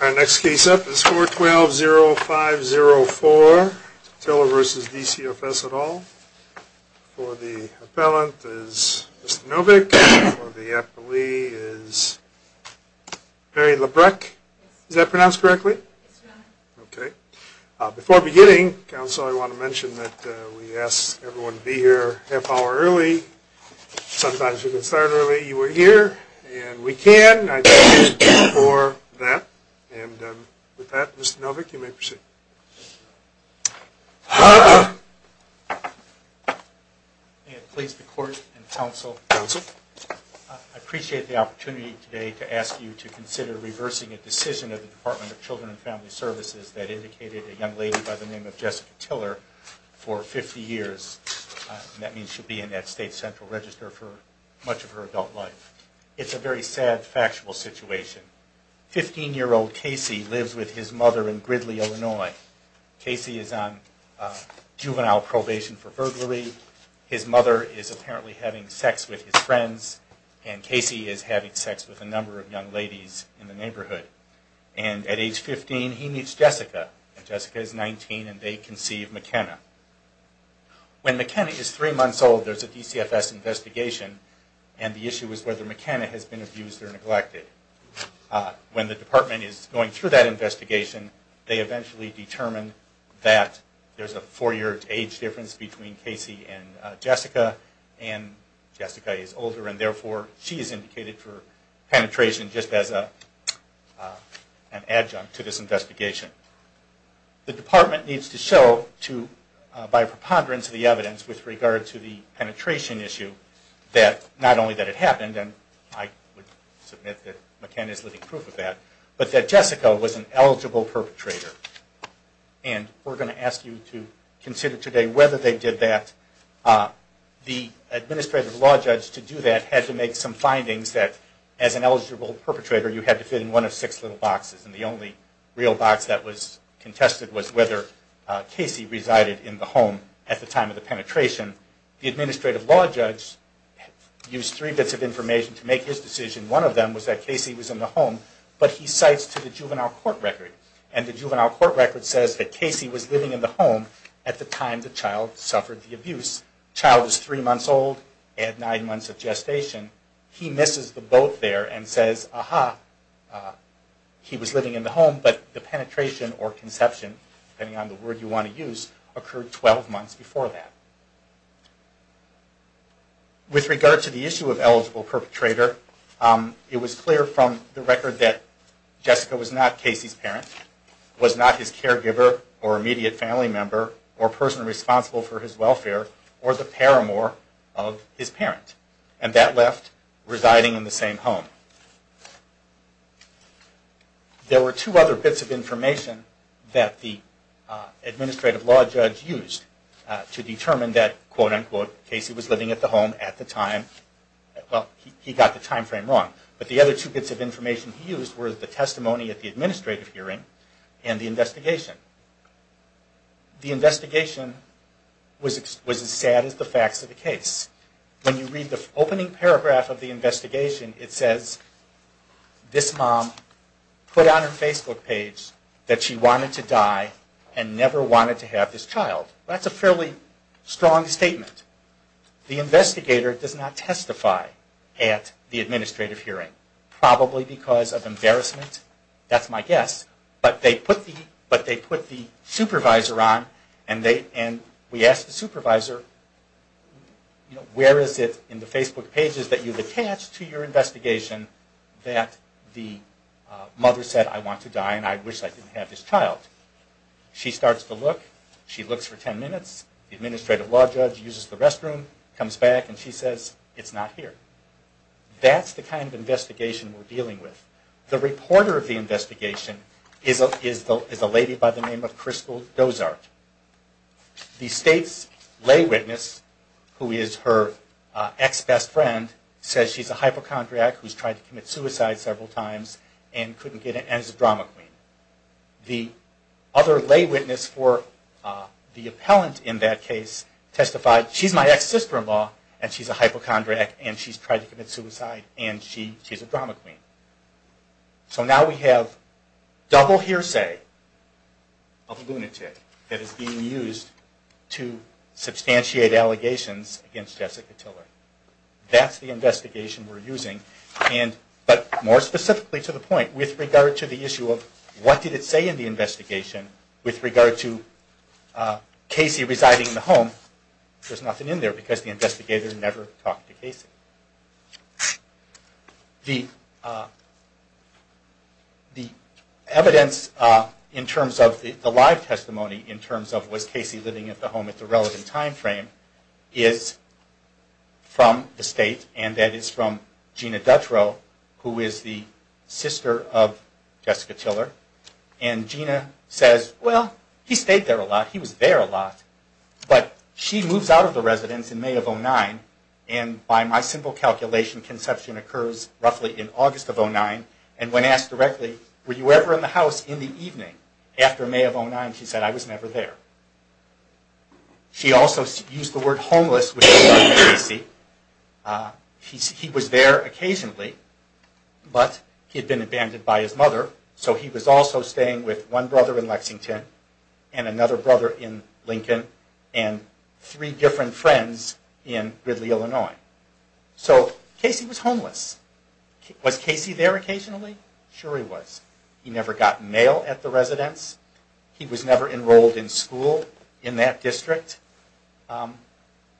Our next case up is 4-12-0-5-0-4, Tiller v. D.C.O.F.S. et al. For the appellant is Mr. Novick. For the appellee is Mary Labreck. Is that pronounced correctly? Yes, Your Honor. Okay. Before beginning, Counsel, I want to mention that we ask everyone to be here half hour early. Sometimes we can start early. Okay, you are here and we can. I thank you for that. With that, Mr. Novick, you may proceed. May it please the Court and Counsel, I appreciate the opportunity today to ask you to consider reversing a decision of the Department of Children and Family Services that indicated a young lady by the name of Jessica Tiller for 50 years. That means she'll be in that state's central register for much of her adult life. It's a very sad, factual situation. Fifteen-year-old Casey lives with his mother in Gridley, Illinois. Casey is on juvenile probation for burglary. His mother is apparently having sex with his friends, and Casey is having sex with a number of young ladies in the neighborhood. And at age 15, he meets Jessica. Jessica is 19, and they conceive McKenna. When McKenna is three months old, there's a DCFS investigation, and the issue is whether McKenna has been abused or neglected. When the department is going through that investigation, they eventually determine that there's a four-year age difference between Casey and Jessica, and Jessica is older, and therefore she is indicated for penetration just as an adjunct to this investigation. The department needs to show, by preponderance of the evidence with regard to the penetration issue, that not only that it happened, and I would submit that McKenna is living proof of that, but that Jessica was an eligible perpetrator. And we're going to ask you to consider today whether they did that. The administrative law judge to do that had to make some findings that, as an eligible perpetrator, you had to fit in one of six little boxes, and the only real box that was contested was whether Casey resided in the home at the time of the penetration. The administrative law judge used three bits of information to make his decision. One of them was that Casey was in the home, but he cites to the juvenile court record, and the juvenile court record says that Casey was living in the home at the time the child suffered the abuse. The child is three months old at nine months of gestation. He misses the boat there and says, aha, he was living in the home, but the penetration or conception, depending on the word you want to use, occurred 12 months before that. With regard to the issue of eligible perpetrator, it was clear from the record that Jessica was not Casey's parent, was not his caregiver or immediate family member or person responsible for his welfare, or the paramour of his parent, and that left residing in the same home. There were two other bits of information that the administrative law judge used to determine that, quote-unquote, Casey was living at the home at the time, well, he got the time frame wrong, but the other two bits of information he used were the testimony at the administrative hearing and the investigation. The investigation was as sad as the facts of the case. When you read the opening paragraph of the investigation, it says, this mom put on her Facebook page that she wanted to die and never wanted to have this child. That's a fairly strong statement. The investigator does not testify at the administrative hearing, probably because of embarrassment, that's my guess, but they put the supervisor on and we asked the supervisor, where is it in the Facebook pages that you've attached to your investigation that the mother said, I want to die and I wish I didn't have this child. She starts to look, she looks for 10 minutes, the administrative law judge uses the restroom, comes back and she says, it's not here. That's the kind of investigation we're dealing with. The reporter of the investigation is a lady by the name of Crystal Dozart. The state's lay witness, who is her ex-best friend, says she's a hypochondriac who's tried to commit suicide several times and couldn't get it and is a drama queen. The other lay witness for the appellant in that case testified, she's my ex-sister-in-law and she's a hypochondriac and she's tried to commit suicide and she's a drama queen. So now we have double hearsay of a lunatic that is being used to substantiate allegations against Jessica Tiller. That's the investigation we're using, but more specifically to the point, with regard to the issue of what did it say in the investigation with regard to Casey residing in the home, there's nothing in there because the investigator never talked to Casey. The evidence in terms of the live testimony, in terms of was Casey living at the home at the relevant time frame, is from the state, and that is from Gina Dutrow, who is the sister of Jessica Tiller. And Gina says, well, he stayed there a lot, he was there a lot, but she moves out of the residence in May of 2009, and by my simple calculation, conception occurs roughly in August of 2009, and when asked directly, were you ever in the house in the evening after May of 2009, she said, I was never there. She also used the word homeless with Casey. He was there occasionally, but he had been abandoned by his mother, so he was also staying with one brother in Lexington, and another brother in Lincoln, and three different friends in Gridley, Illinois. So Casey was homeless. Was Casey there occasionally? Sure he was. He never got mail at the residence. He was never enrolled in school in that district.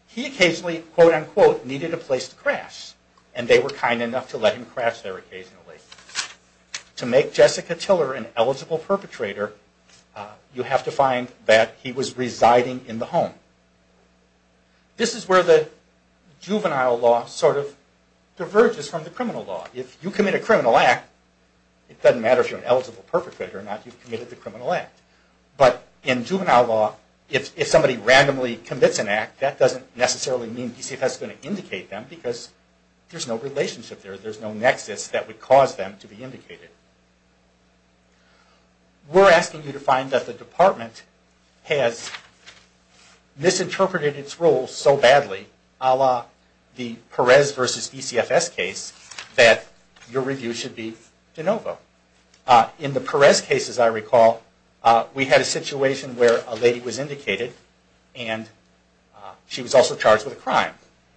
He occasionally, quote unquote, needed a place to crash, and they were kind enough to let him crash there occasionally. To make Jessica Tiller an eligible perpetrator, you have to find that he was residing in the home. This is where the juvenile law sort of diverges from the criminal law. If you commit a criminal act, it doesn't matter if you're an eligible perpetrator or not, you've committed the criminal act. But in juvenile law, if somebody randomly commits an act, that doesn't necessarily mean DCFS is going to indicate them, because there's no relationship there. There's no nexus that would cause them to be indicated. We're asking you to find that the department has misinterpreted its rules so badly, a la the Perez versus DCFS case, that your review should be de novo. In the Perez case, as I recall, we had a situation where a lady was indicated, and she was also charged with a crime.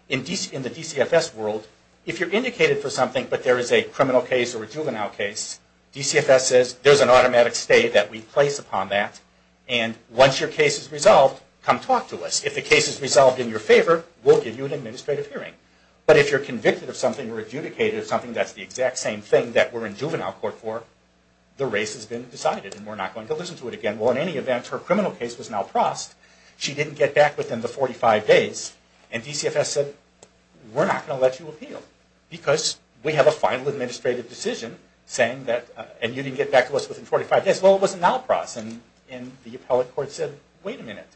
In the DCFS world, if you're indicated for something, but there is a criminal case or a juvenile case, DCFS says there's an automatic stay that we place upon that, and once your case is resolved, come talk to us. If the case is resolved in your favor, we'll give you an administrative hearing. But if you're convicted of something or adjudicated of something that's the exact same thing that we're in juvenile court for, the race has been decided, and we're not going to listen to it again. Well, in any event, her criminal case was now prossed. She didn't get back within the 45 days, and DCFS said, we're not going to let you appeal, because we have a final administrative decision, and you didn't get back to us within 45 days. Well, it was now prossed, and the appellate court said, wait a minute,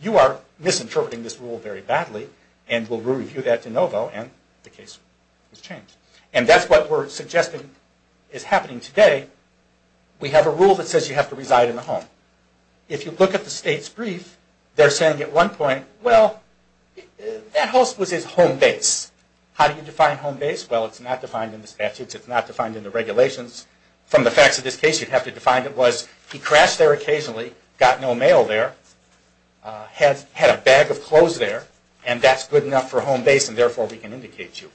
you are misinterpreting this rule very badly, and we'll review that de novo, and the case was changed. And that's what we're suggesting is happening today. We have a rule that says you have to reside in the home. If you look at the state's brief, they're saying at one point, well, that house was his home base. How do you define home base? Well, it's not defined in the statutes. It's not defined in the regulations. From the facts of this case, you'd have to define it was, he crashed there occasionally, got no mail there, had a bag of clothes there, and that's good enough for home base, and therefore we can indicate you.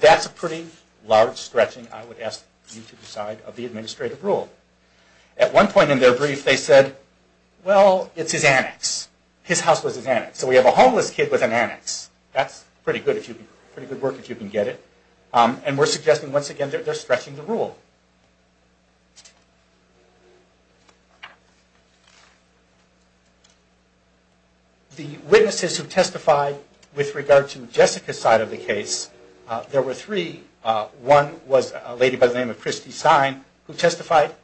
That's a pretty large stretching, I would ask you to decide, of the administrative rule. At one point in their brief, they said, well, it's his annex. His house was his annex, so we have a homeless kid with an annex. That's pretty good work if you can get it. And we're suggesting, once again, they're stretching the rule. The witnesses who testified with regard to Jessica's side of the case, there were three. One was a lady by the name of Christy Stein who testified.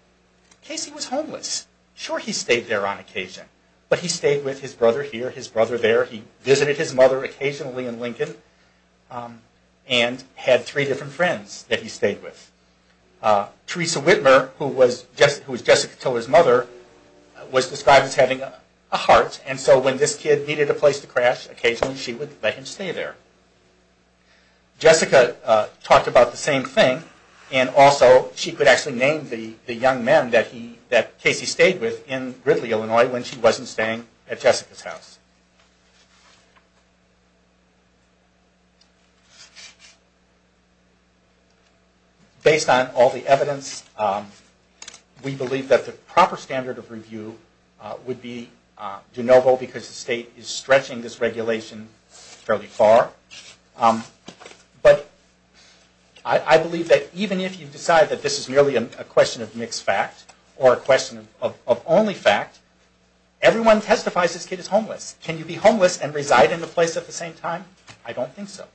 Casey was homeless. Sure, he stayed there on occasion, but he stayed with his brother here, his brother there. He visited his mother occasionally in Lincoln, and had three different friends that he stayed with. Teresa Whitmer, who was Jessica Tiller's mother, was described as having a heart, and so when this kid needed a place to crash, occasionally she would let him stay there. Jessica talked about the same thing, and also she could actually name the young men that Casey stayed with in Gridley, Illinois, when she wasn't staying at Jessica's house. Based on all the evidence, we believe that the proper standard of review would be de novo, because the state is stretching this regulation fairly far. But I believe that even if you decide that this is merely a question of mixed fact, or a question of only fact, Can you be homeless and not be homeless? Can you be homeless and reside in a place at the same time? I don't think so.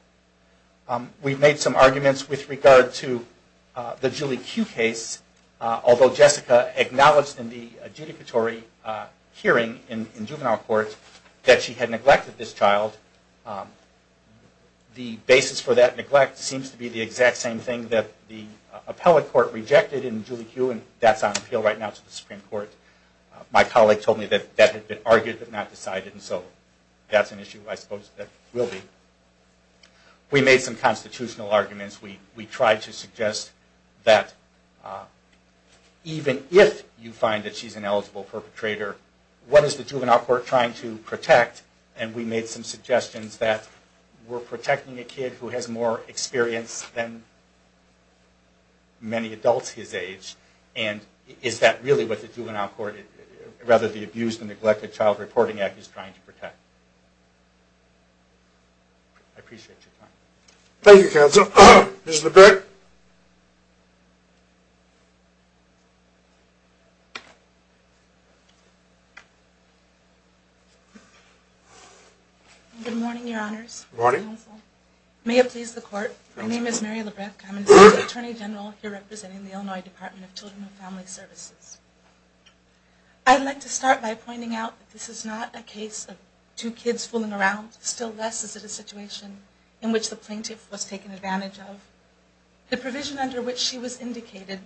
We've made some arguments with regard to the Julie Q case. Although Jessica acknowledged in the adjudicatory hearing in juvenile court that she had neglected this child, the basis for that neglect seems to be the exact same thing that the appellate court rejected in Julie Q, and that's on appeal right now to the Supreme Court. My colleague told me that that had been argued but not decided, and so that's an issue I suppose that will be. We made some constitutional arguments. We tried to suggest that even if you find that she's an eligible perpetrator, what is the juvenile court trying to protect? And we made some suggestions that we're protecting a kid who has more experience than many adults his age, and is that really what the juvenile court, rather the Abused and Neglected Child Reporting Act is trying to protect? I appreciate your time. Thank you, counsel. Good morning, your honors. May it please the court. My name is Mary Labreck. I'm an assistant attorney general here representing the Illinois Department of Children and Family Services. I'd like to start by pointing out that this is not a case of two kids fooling around. Still less is it a situation in which the plaintiff was taken advantage of. The provision under which she was indicated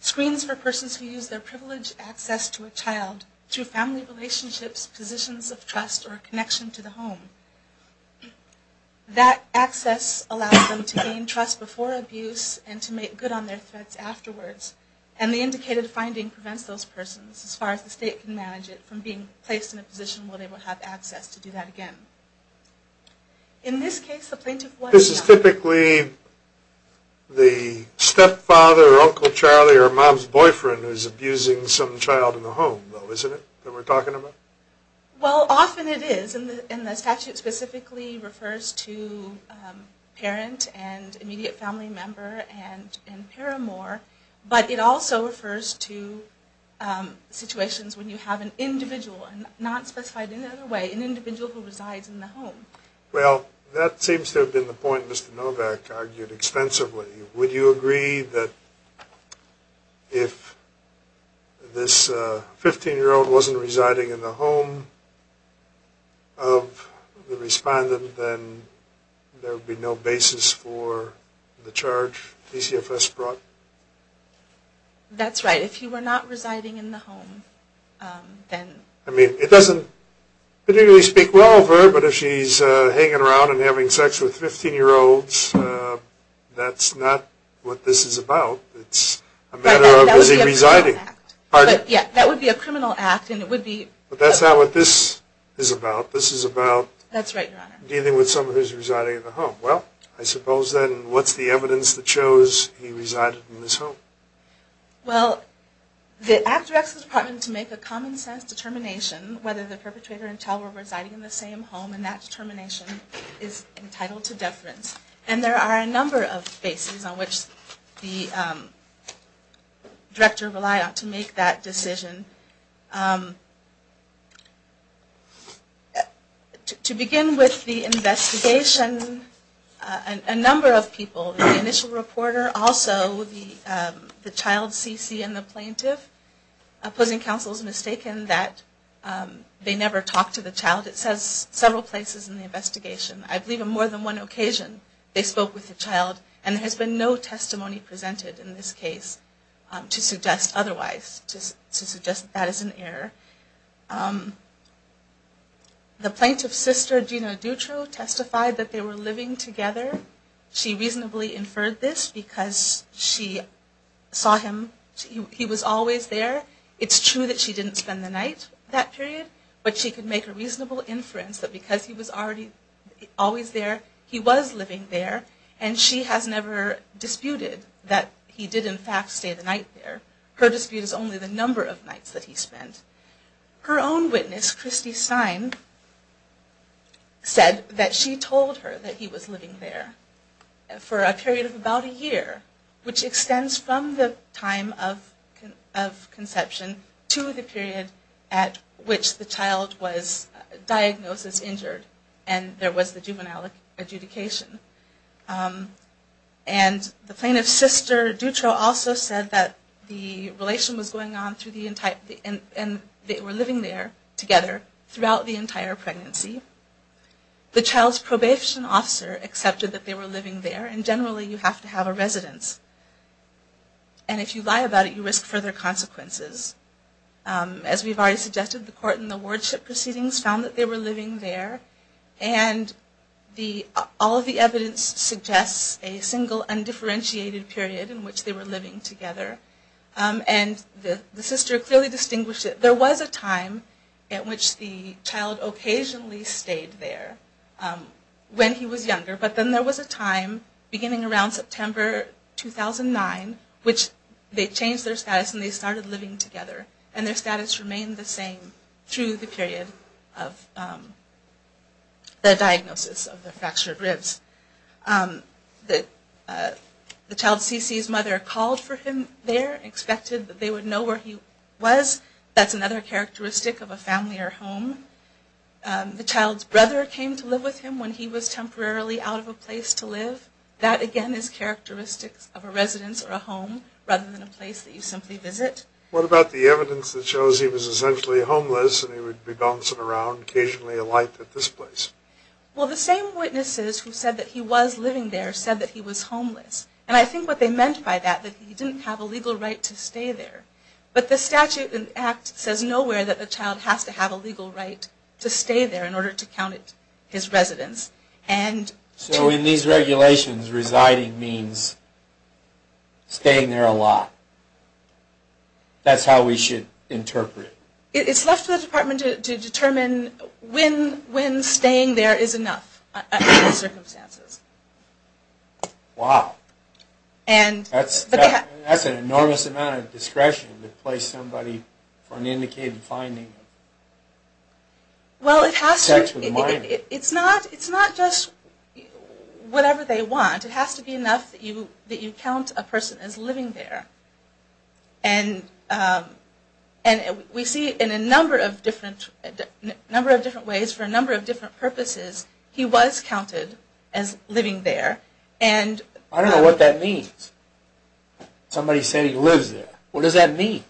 screens for persons who use their privileged access to a child through family relationships, positions of trust, or a connection to the home. That access allows them to gain trust before abuse and to make good on their threats afterwards. And the indicated finding prevents those persons, as far as the state can manage it, from being placed in a position where they will have access to do that again. In this case, the plaintiff was... This is typically the stepfather or uncle Charlie or mom's boyfriend who's abusing some child in the home, though, isn't it, that we're talking about? Well, often it is, and the statute specifically refers to parent and immediate family member and paramour, but it also refers to situations when you have an individual, not specified in another way, an individual who resides in the home. Well, that seems to have been the point Mr. Novak argued extensively. Would you agree that if this 15-year-old wasn't residing in the home of the respondent, then there would be no basis for the charge PCFS brought? That's right. If he were not residing in the home, then... It doesn't particularly speak well of her, but if she's hanging around and having sex with 15-year-olds, that's not what this is about. It's a matter of, is he residing? That would be a criminal act, and it would be... But that's not what this is about. This is about dealing with someone who's residing in the home. Well, I suppose then, what's the evidence that shows he resided in this home? Well, the act directs the department to make a common sense determination whether the perpetrator and teller were residing in the same home, and that determination is entitled to deference. And there are a number of bases on which the director relied on to make that decision. To begin with, the investigation... A number of people, the initial reporter, also the child CC and the plaintiff opposing counsel is mistaken that they never talked to the child. It says several places in the investigation. I believe on more than one occasion they spoke with the child, and there has been no testimony presented in this case to suggest otherwise, to suggest that that is an error. The plaintiff's sister, Gina Dutro, testified that they were living together. She reasonably inferred this because she saw him, he was always there. It's true that she didn't spend the night that period, but she could make a reasonable inference that because he was always there, he was living there, and she has never disputed that he did in fact stay the night there. Her dispute is only the number of nights that he spent. Her own witness, Christy Stein, said that she told her that he was living there for a period of about a year, which extends from the time of conception to the period at which the child was diagnosed as injured, and there was the juvenile adjudication. The plaintiff's sister, Dutro, also said that the relation was going on and they were living there together throughout the entire pregnancy. The child's probation officer accepted that they were living there, and generally you have to have a residence, and if you lie about it, you risk further consequences. As we've already suggested, the court in the wardship proceedings found that they were living there, and all of the evidence suggests a single undifferentiated period in which they were living together, and the sister clearly distinguished that there was a time at which the child occasionally stayed there when he was younger, but then there was a time beginning around September 2009 which they changed their status and they started living together, and their status remained the same through the period of the diagnosis of the fractured ribs. The child's CC's mother called for him there, expected that they would know where he was, that's another characteristic of a family or home. The child's brother came to live with him when he was temporarily out of a place to live, that again is characteristics of a residence or a home rather than a place that you simply visit. What about the evidence that shows he was essentially homeless and he would be bouncing around occasionally alight at this place? Well, the same witnesses who said that he was living there said that he was homeless, and I think what they meant by that was that he didn't have a legal right to stay there, but the statute and act says nowhere that the child has to have a legal right to stay there in order to count it his residence. So in these regulations residing means staying there a lot. That's how we should interpret it. It's left for the department to determine when staying there is enough under those circumstances. Wow. That's an enormous amount of discretion to place somebody for an indicated finding. Well, it has to be. It's not just whatever they want. It has to be enough that you count a person as living there. And we see it in a number of different ways for a number of different purposes. He was counted as living there. I don't know what that means. Somebody said he lives there. What does that mean?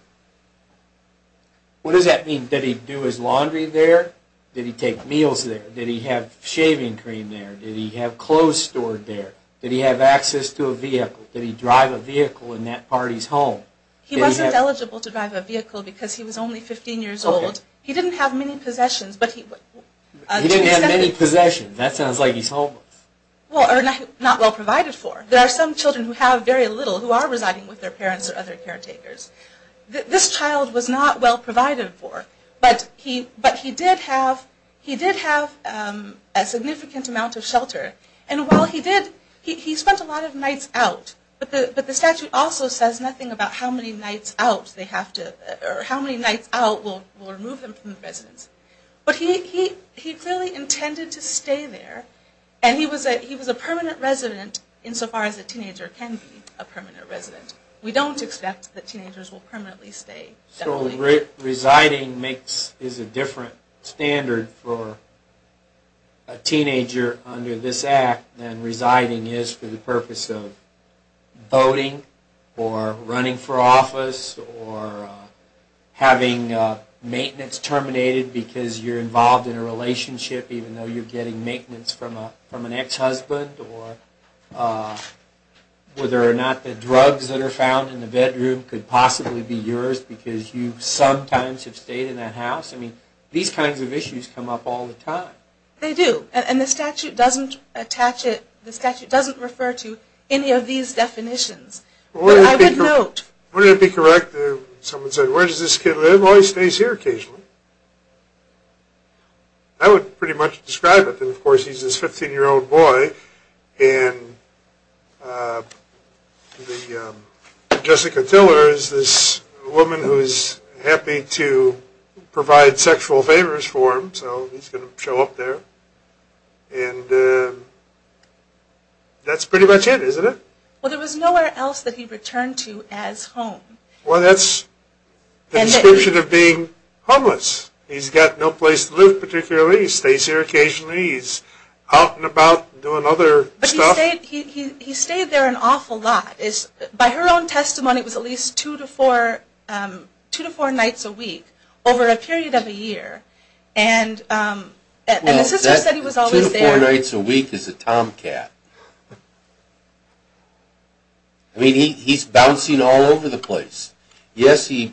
What does that mean? Did he do his laundry there? Did he take meals there? Did he have shaving cream there? Did he have clothes stored there? Did he have access to a vehicle? Did he drive a vehicle in that party's home? He wasn't eligible to drive a vehicle because he was only 15 years old. He didn't have many possessions. He didn't have many possessions. That sounds like he's homeless. Well, not well provided for. There are some children who have very little who are residing with their parents or other caretakers. This child was not well provided for. But he did have a significant amount of shelter. And while he did, he spent a lot of nights out. But the statute also says nothing about how many nights out will remove him from the residence. But he clearly intended to stay there. And he was a permanent resident insofar as a teenager can be a permanent resident. We don't expect that teenagers will permanently stay. So residing is a different standard for a teenager under this Act than residing is for the purpose of voting or running for office or having maintenance terminated because you're involved in a relationship even though you're getting maintenance from an ex-husband or whether or not the drugs that are found in the bedroom could possibly be yours because you sometimes have stayed in that house. These kinds of issues come up all the time. They do. And the statute doesn't refer to any of these definitions. Wouldn't it be correct if someone said, where does this kid live? Oh, he stays here occasionally. I would pretty much describe it. Of course, he's this 15-year-old boy and Jessica Tiller is this woman who is happy to provide sexual favors for him. So he's going to show up there. And that's pretty much it, isn't it? Well, there was nowhere else that he returned to as home. Well, that's the description of being homeless. He's got no place to live particularly. He stays here occasionally. He's out and about doing other stuff. But he stayed there an awful lot. By her own testimony, it was at least two to four nights a week over a period of a year. And the sister said he was always there. Two to four nights a week is a tomcat. I mean, he's bouncing all over the place. Yes, he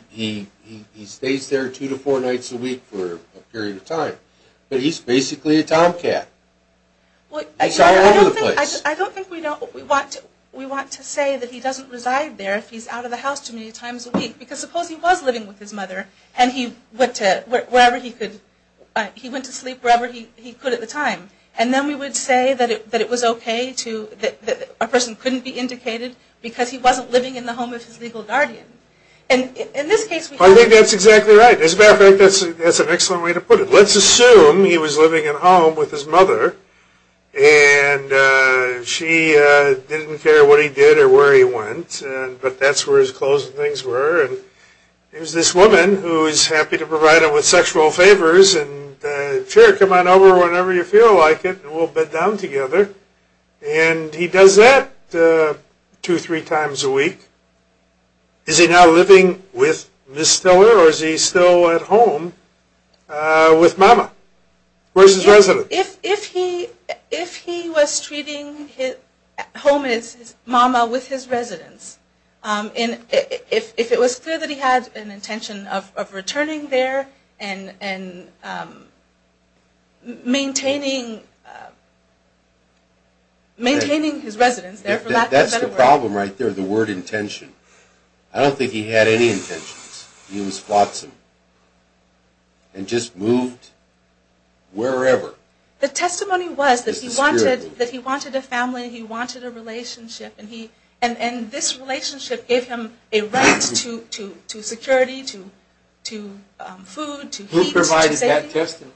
stays there two to four nights a week for a period of time. But he's basically a tomcat. He's all over the place. I don't think we want to say that he doesn't reside there if he's out of the house too many times a week. Because suppose he was living with his mother and he went to sleep wherever he could at the time. And then we would say that it was okay to that a person couldn't be indicated because he wasn't living in the home of his legal guardian. I think that's exactly right. As a matter of fact, that's an excellent way to put it. Let's assume he was living at home with his mother and she didn't care what he did or where he went. But that's where his clothes and things were. And there's this woman who's happy to provide him with sexual favors and, sure, come on over whenever you feel like it and we'll bed down together. And he does that two or three times a week. Is he now living with Miss Stiller or is he still at home with Mama? Where's his residence? If he was treating home as Mama with his residence if it was clear that he had an intention of returning there and maintaining his residence there for lack of a better word. That's the problem right there, the word intention. I don't think he had any intentions. He was flotsam. And just moved wherever. The testimony was that he wanted a family, he wanted a relationship and this relationship gave him a right to security, to food, to heat. Who provided that testimony?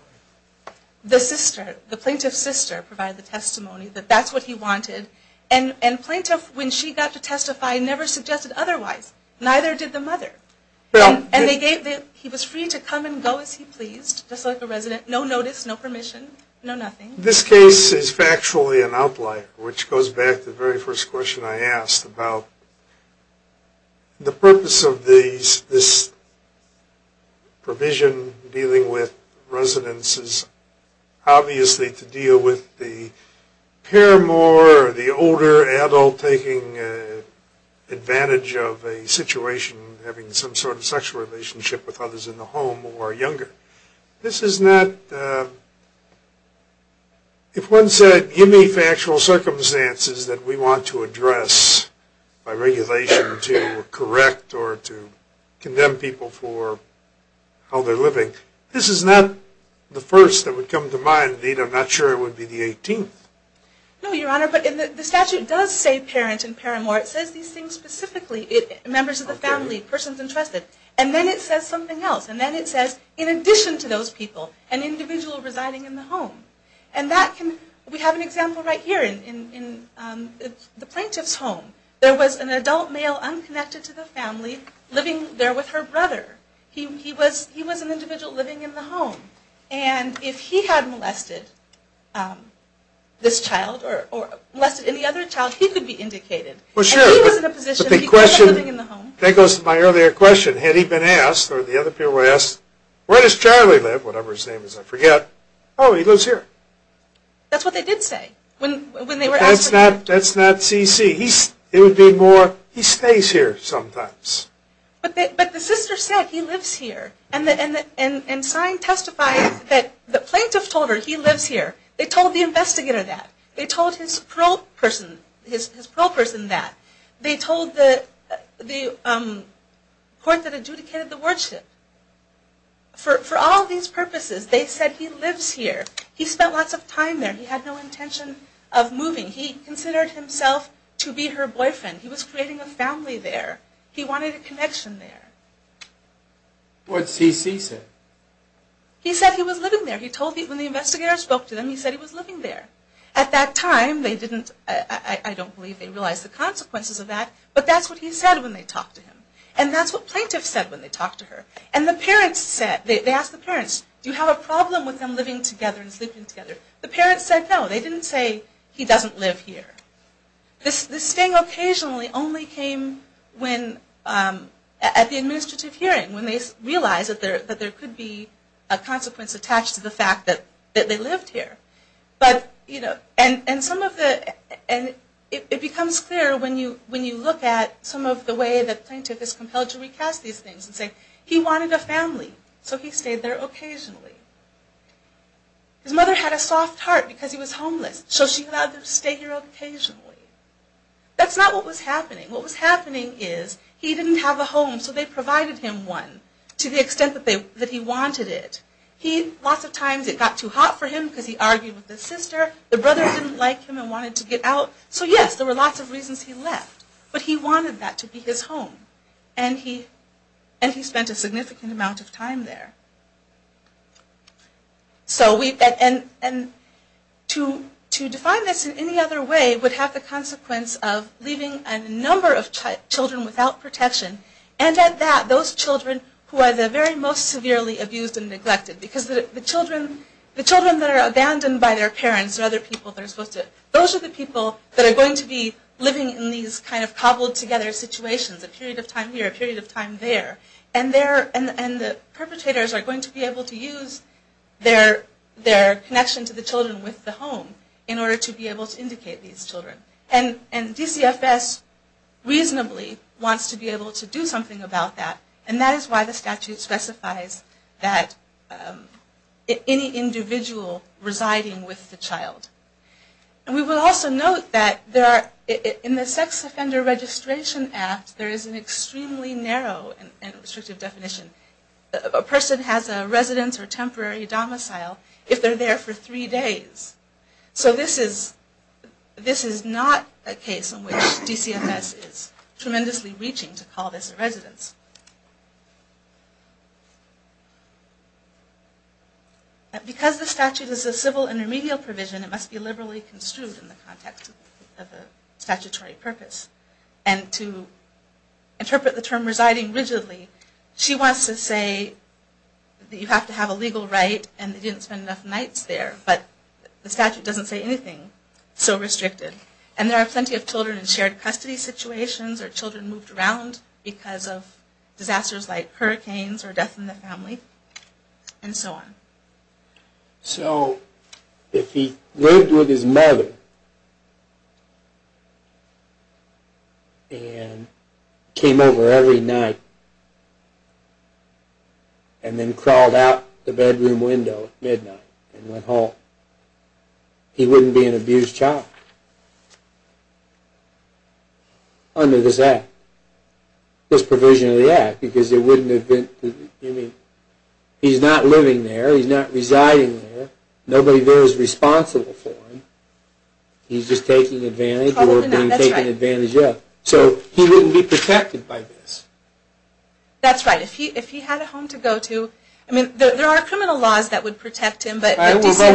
The plaintiff's sister provided the testimony that that's what he wanted. And plaintiff, when she got to testify, never suggested otherwise. Neither did the mother. And he was free to come and go as he pleased just like a resident. No notice, no permission, no nothing. This case is factually an outlier which goes back to the very first question I asked about the purpose of this provision dealing with residences obviously to deal with the paramour or the older adult taking advantage of a situation having some sort of sexual relationship with others in the home who are younger. This is not if one said give me factual circumstances that we want to address by regulation to correct or to condemn people for how they're living, this is not the first that would come to mind. Indeed, I'm not sure it would be the 18th. No, Your Honor, but the statute does say parent and paramour. It says these things specifically members of the family, persons entrusted. And then it says something else. And then it says in addition to those people an individual residing in the home. We have an example right here in the plaintiff's home. There was an adult male unconnected to the family living there with her brother. He was an individual living in the home. And if he had molested this child or molested any other child, he could be indicated. That goes to my earlier question. Had he been asked or the other parent asked, where does Charlie live? Whatever his name is, I forget. Oh, he lives here. That's what they did say. That's not CC. It would be more he stays here sometimes. But the sister said he lives here. And they told the investigator that. They told his pro person that. They told the court that adjudicated the wardship. For all these purposes, they said he lives here. He spent lots of time there. He had no intention of moving. He considered himself to be her boyfriend. He was creating a family there. He wanted a connection there. What did CC say? He said he was living there. When the investigator spoke to him, he said he was living there. At that time, I don't believe they realized the consequences of that, but that's what he said when they talked to him. And that's what plaintiffs said when they talked to her. They asked the parents, do you have a problem with them living together and sleeping together? The parents said no. They didn't say he doesn't live here. This thing occasionally only came up at the administrative hearing when they realized that there could be a consequence attached to the fact that they lived here. It becomes clear when you look at some of the way the plaintiff is compelled to recast these things and say he wanted a family, so he stayed there occasionally. His mother had a soft heart because he was homeless, so she allowed him to stay here occasionally. That's not what was happening. What was happening is he didn't have a home, so they provided him one to the extent that he wanted it. Lots of times it got too hot for him because he argued with his sister. The brothers didn't like him and wanted to get out. So yes, there were lots of reasons he left, but he wanted that to be his home, and he spent a significant amount of time there. To define this in any other way would have the consequence of leaving a number of children without protection and those children who are the most severely abused and neglected. The children that are abandoned by their parents are the people that are going to be living in these cobbled together situations. A period of time here, a period of time there. The perpetrators are going to be able to use their connection to the children with the home in order to be able to indicate these children. DCFS reasonably wants to be able to do something about that, and that is why the statute specifies that any individual residing with the child. We will also note that in the Sex Offender Registration Act there is an extremely narrow and restrictive definition. A person has a residence or temporary domicile if they are there for three days. So this is not a case in which DCFS is tremendously reaching to call this a residence. Because the statute is a civil intermedial provision, it must be liberally construed in the context of the statutory purpose, and to say that you have to have a legal right and they didn't spend enough nights there. But the statute doesn't say anything so restricted. And there are plenty of children in shared custody situations or children moved around because of disasters like hurricanes or death in the family, and so on. So if he lived with his mother and came over every night and then crawled out the bedroom window at midnight and went home, he wouldn't be an abused child under this act. This provision of the act, because he's not living there, he's not residing there, nobody there is responsible for him, he's just taking advantage of the situation. So he wouldn't be protected by this. That's right. If he had a home to go to, there are criminal laws that would protect him. But DCFS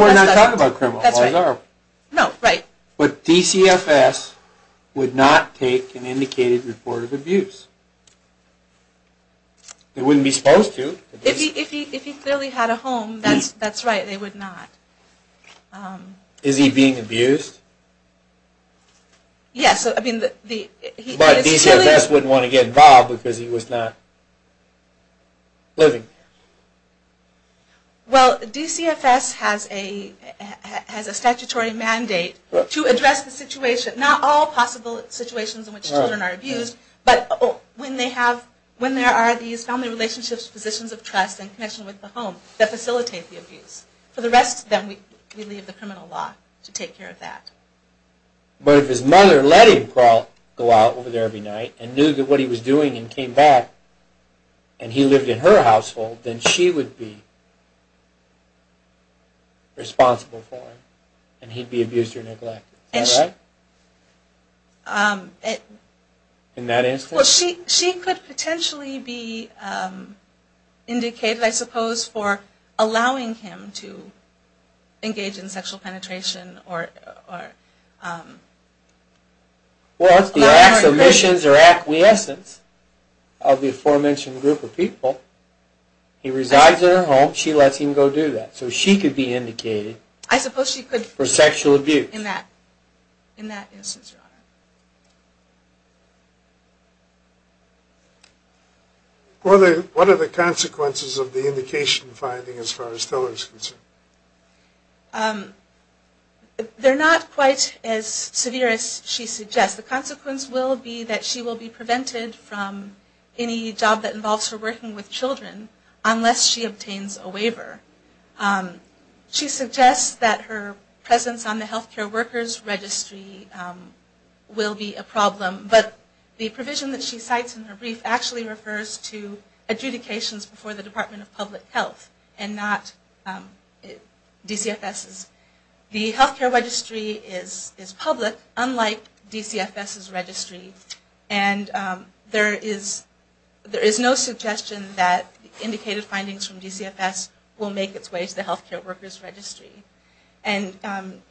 would not take an indicated report of abuse. They wouldn't be supposed to. If he clearly had a home, that's right, they would not. Is he being abused? Yes. But DCFS wouldn't want to get involved because he was not living there. Well, DCFS has a statutory mandate to address the situation, not all possible situations in which children are abused, but when there are these family relationships, positions of trust and connection with the home that facilitate the abuse. For the rest of them, we leave the criminal law to take care of that. But if his mother let him go out every night and knew what he was doing and came back and he lived in her household, then she would be responsible for him and he'd be abused or neglected. Is that right? In that instance? Well, she could potentially be indicated, I suppose, for allowing him to engage in sexual penetration or... Well, it's the acquiescence of the aforementioned group of people. He resides in her home, she lets him go do that. So she could be indicated for sexual abuse. In that instance, Your Honor. What are the consequences of the indication finding as far as Tiller is concerned? They're not quite as severe as she suggests. The consequence will be that she will be prevented from any job that involves her working with children unless she obtains a waiver. She suggests that her presence on the Healthcare Workers Registry will be a problem, but the provision that she cites in her brief actually refers to adjudications before the Department of Public Health and not DCFS's. The Healthcare Registry is public, unlike DCFS's registry, and there is no suggestion that indicated will make its way to the Healthcare Workers Registry.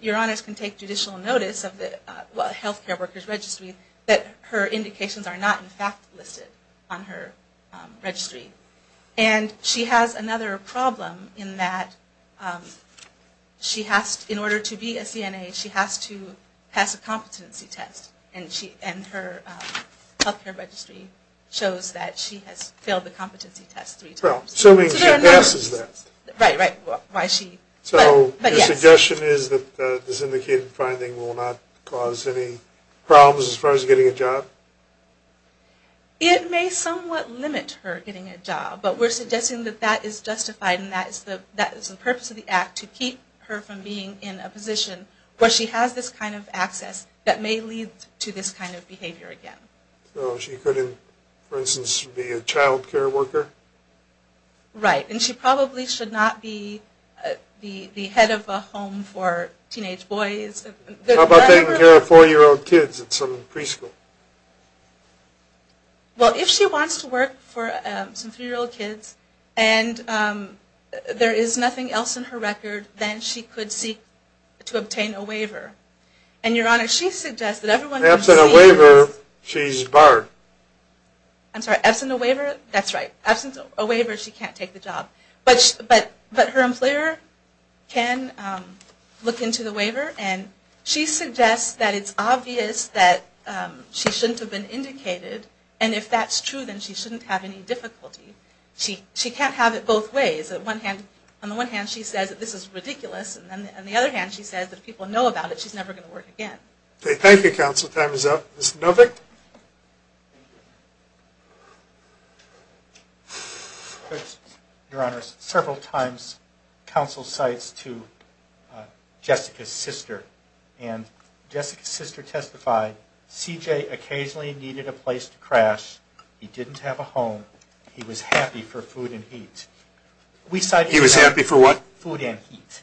Your Honors can take judicial notice of the Healthcare Workers Registry that her indications are not in fact listed on her registry. And she has another problem in that in order to be a CNA, she has to pass a competency test. And her Healthcare Registry shows that she has failed the competency test three times. So your suggestion is that this indicated finding will not cause any problems as far as getting a job? It may somewhat limit her getting a job, but we're suggesting that that is justified and that is the purpose of the Act to keep her from being in a position where she has this kind of access that may lead to this kind of behavior again. So she couldn't, for instance, be a childcare worker? Right. And she probably should not be the head of a home for teenage boys. How about taking care of four-year-old kids at some preschool? Well, if she wants to work for some three-year-old kids and there is nothing else in her record, then she could seek to obtain a waiver. And your suggestion is barred? I'm sorry. Absent a waiver? That's right. Absent a waiver, she can't take the job. But her employer can look into the waiver and she suggests that it's obvious that she shouldn't have been indicated. And if that's true, then she shouldn't have any difficulty. She can't have it both ways. On the one hand, she says that this is ridiculous. And on the other hand, she says that if people know about it, she's never going to work again. Thank you, counsel. Time is up. Mr. Novick? Your Honor, several times counsel cites to Jessica's sister and Jessica's sister testified, CJ occasionally needed a place to crash. He didn't have a home. He was happy for food and heat. He was happy for what? Food and heat.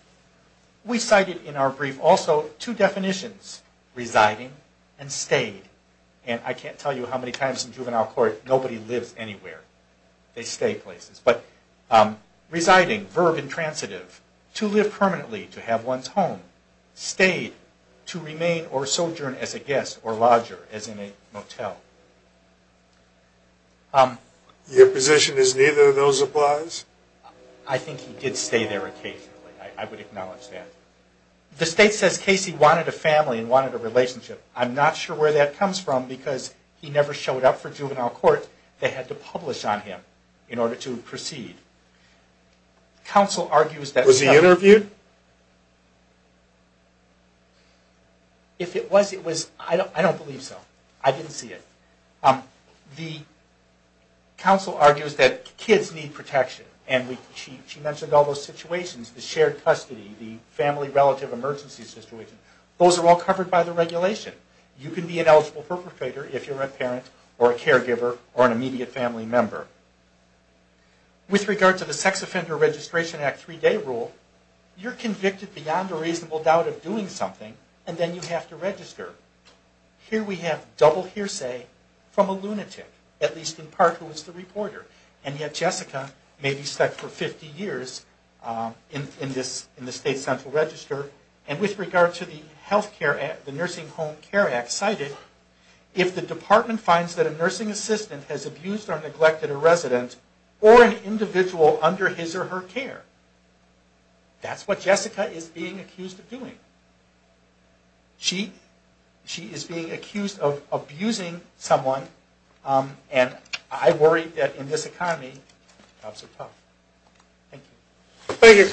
We cited in our brief also two definitions, residing and stayed. And I can't tell you how many times in juvenile court nobody lives anywhere. They stay places. But residing, verb intransitive, to live permanently, to have one's home. Stayed, to remain or sojourn as a guest or lodger, as in a motel. Your position is I think he did stay there occasionally. I would acknowledge that. The state says Casey wanted a family and wanted a relationship. I'm not sure where that comes from because he never showed up for juvenile court. They had to publish on him in order to proceed. Counsel argues that Was he interviewed? If it was, it was. I don't believe so. I didn't see it. The counsel argues that kids need protection. And she mentioned all those situations, the shared custody, the family relative emergency situation. Those are all covered by the regulation. You can be an eligible perpetrator if you're a parent or a caregiver or an immediate family member. With regard to the Sex Offender Registration Act three-day rule, you're convicted beyond a reasonable doubt of doing something and then you have to register. Here we have double hearsay from a lunatic at least in part who was the reporter. And yet Jessica may be stuck for 50 years in the state central register. And with regard to the Nursing Home Care Act cited, if the department finds that a nursing assistant has abused or neglected a resident or an individual under his or her care that's what Jessica is being accused of doing. She is being accused of abusing someone and I worry that in this economy jobs are tough. Thank you.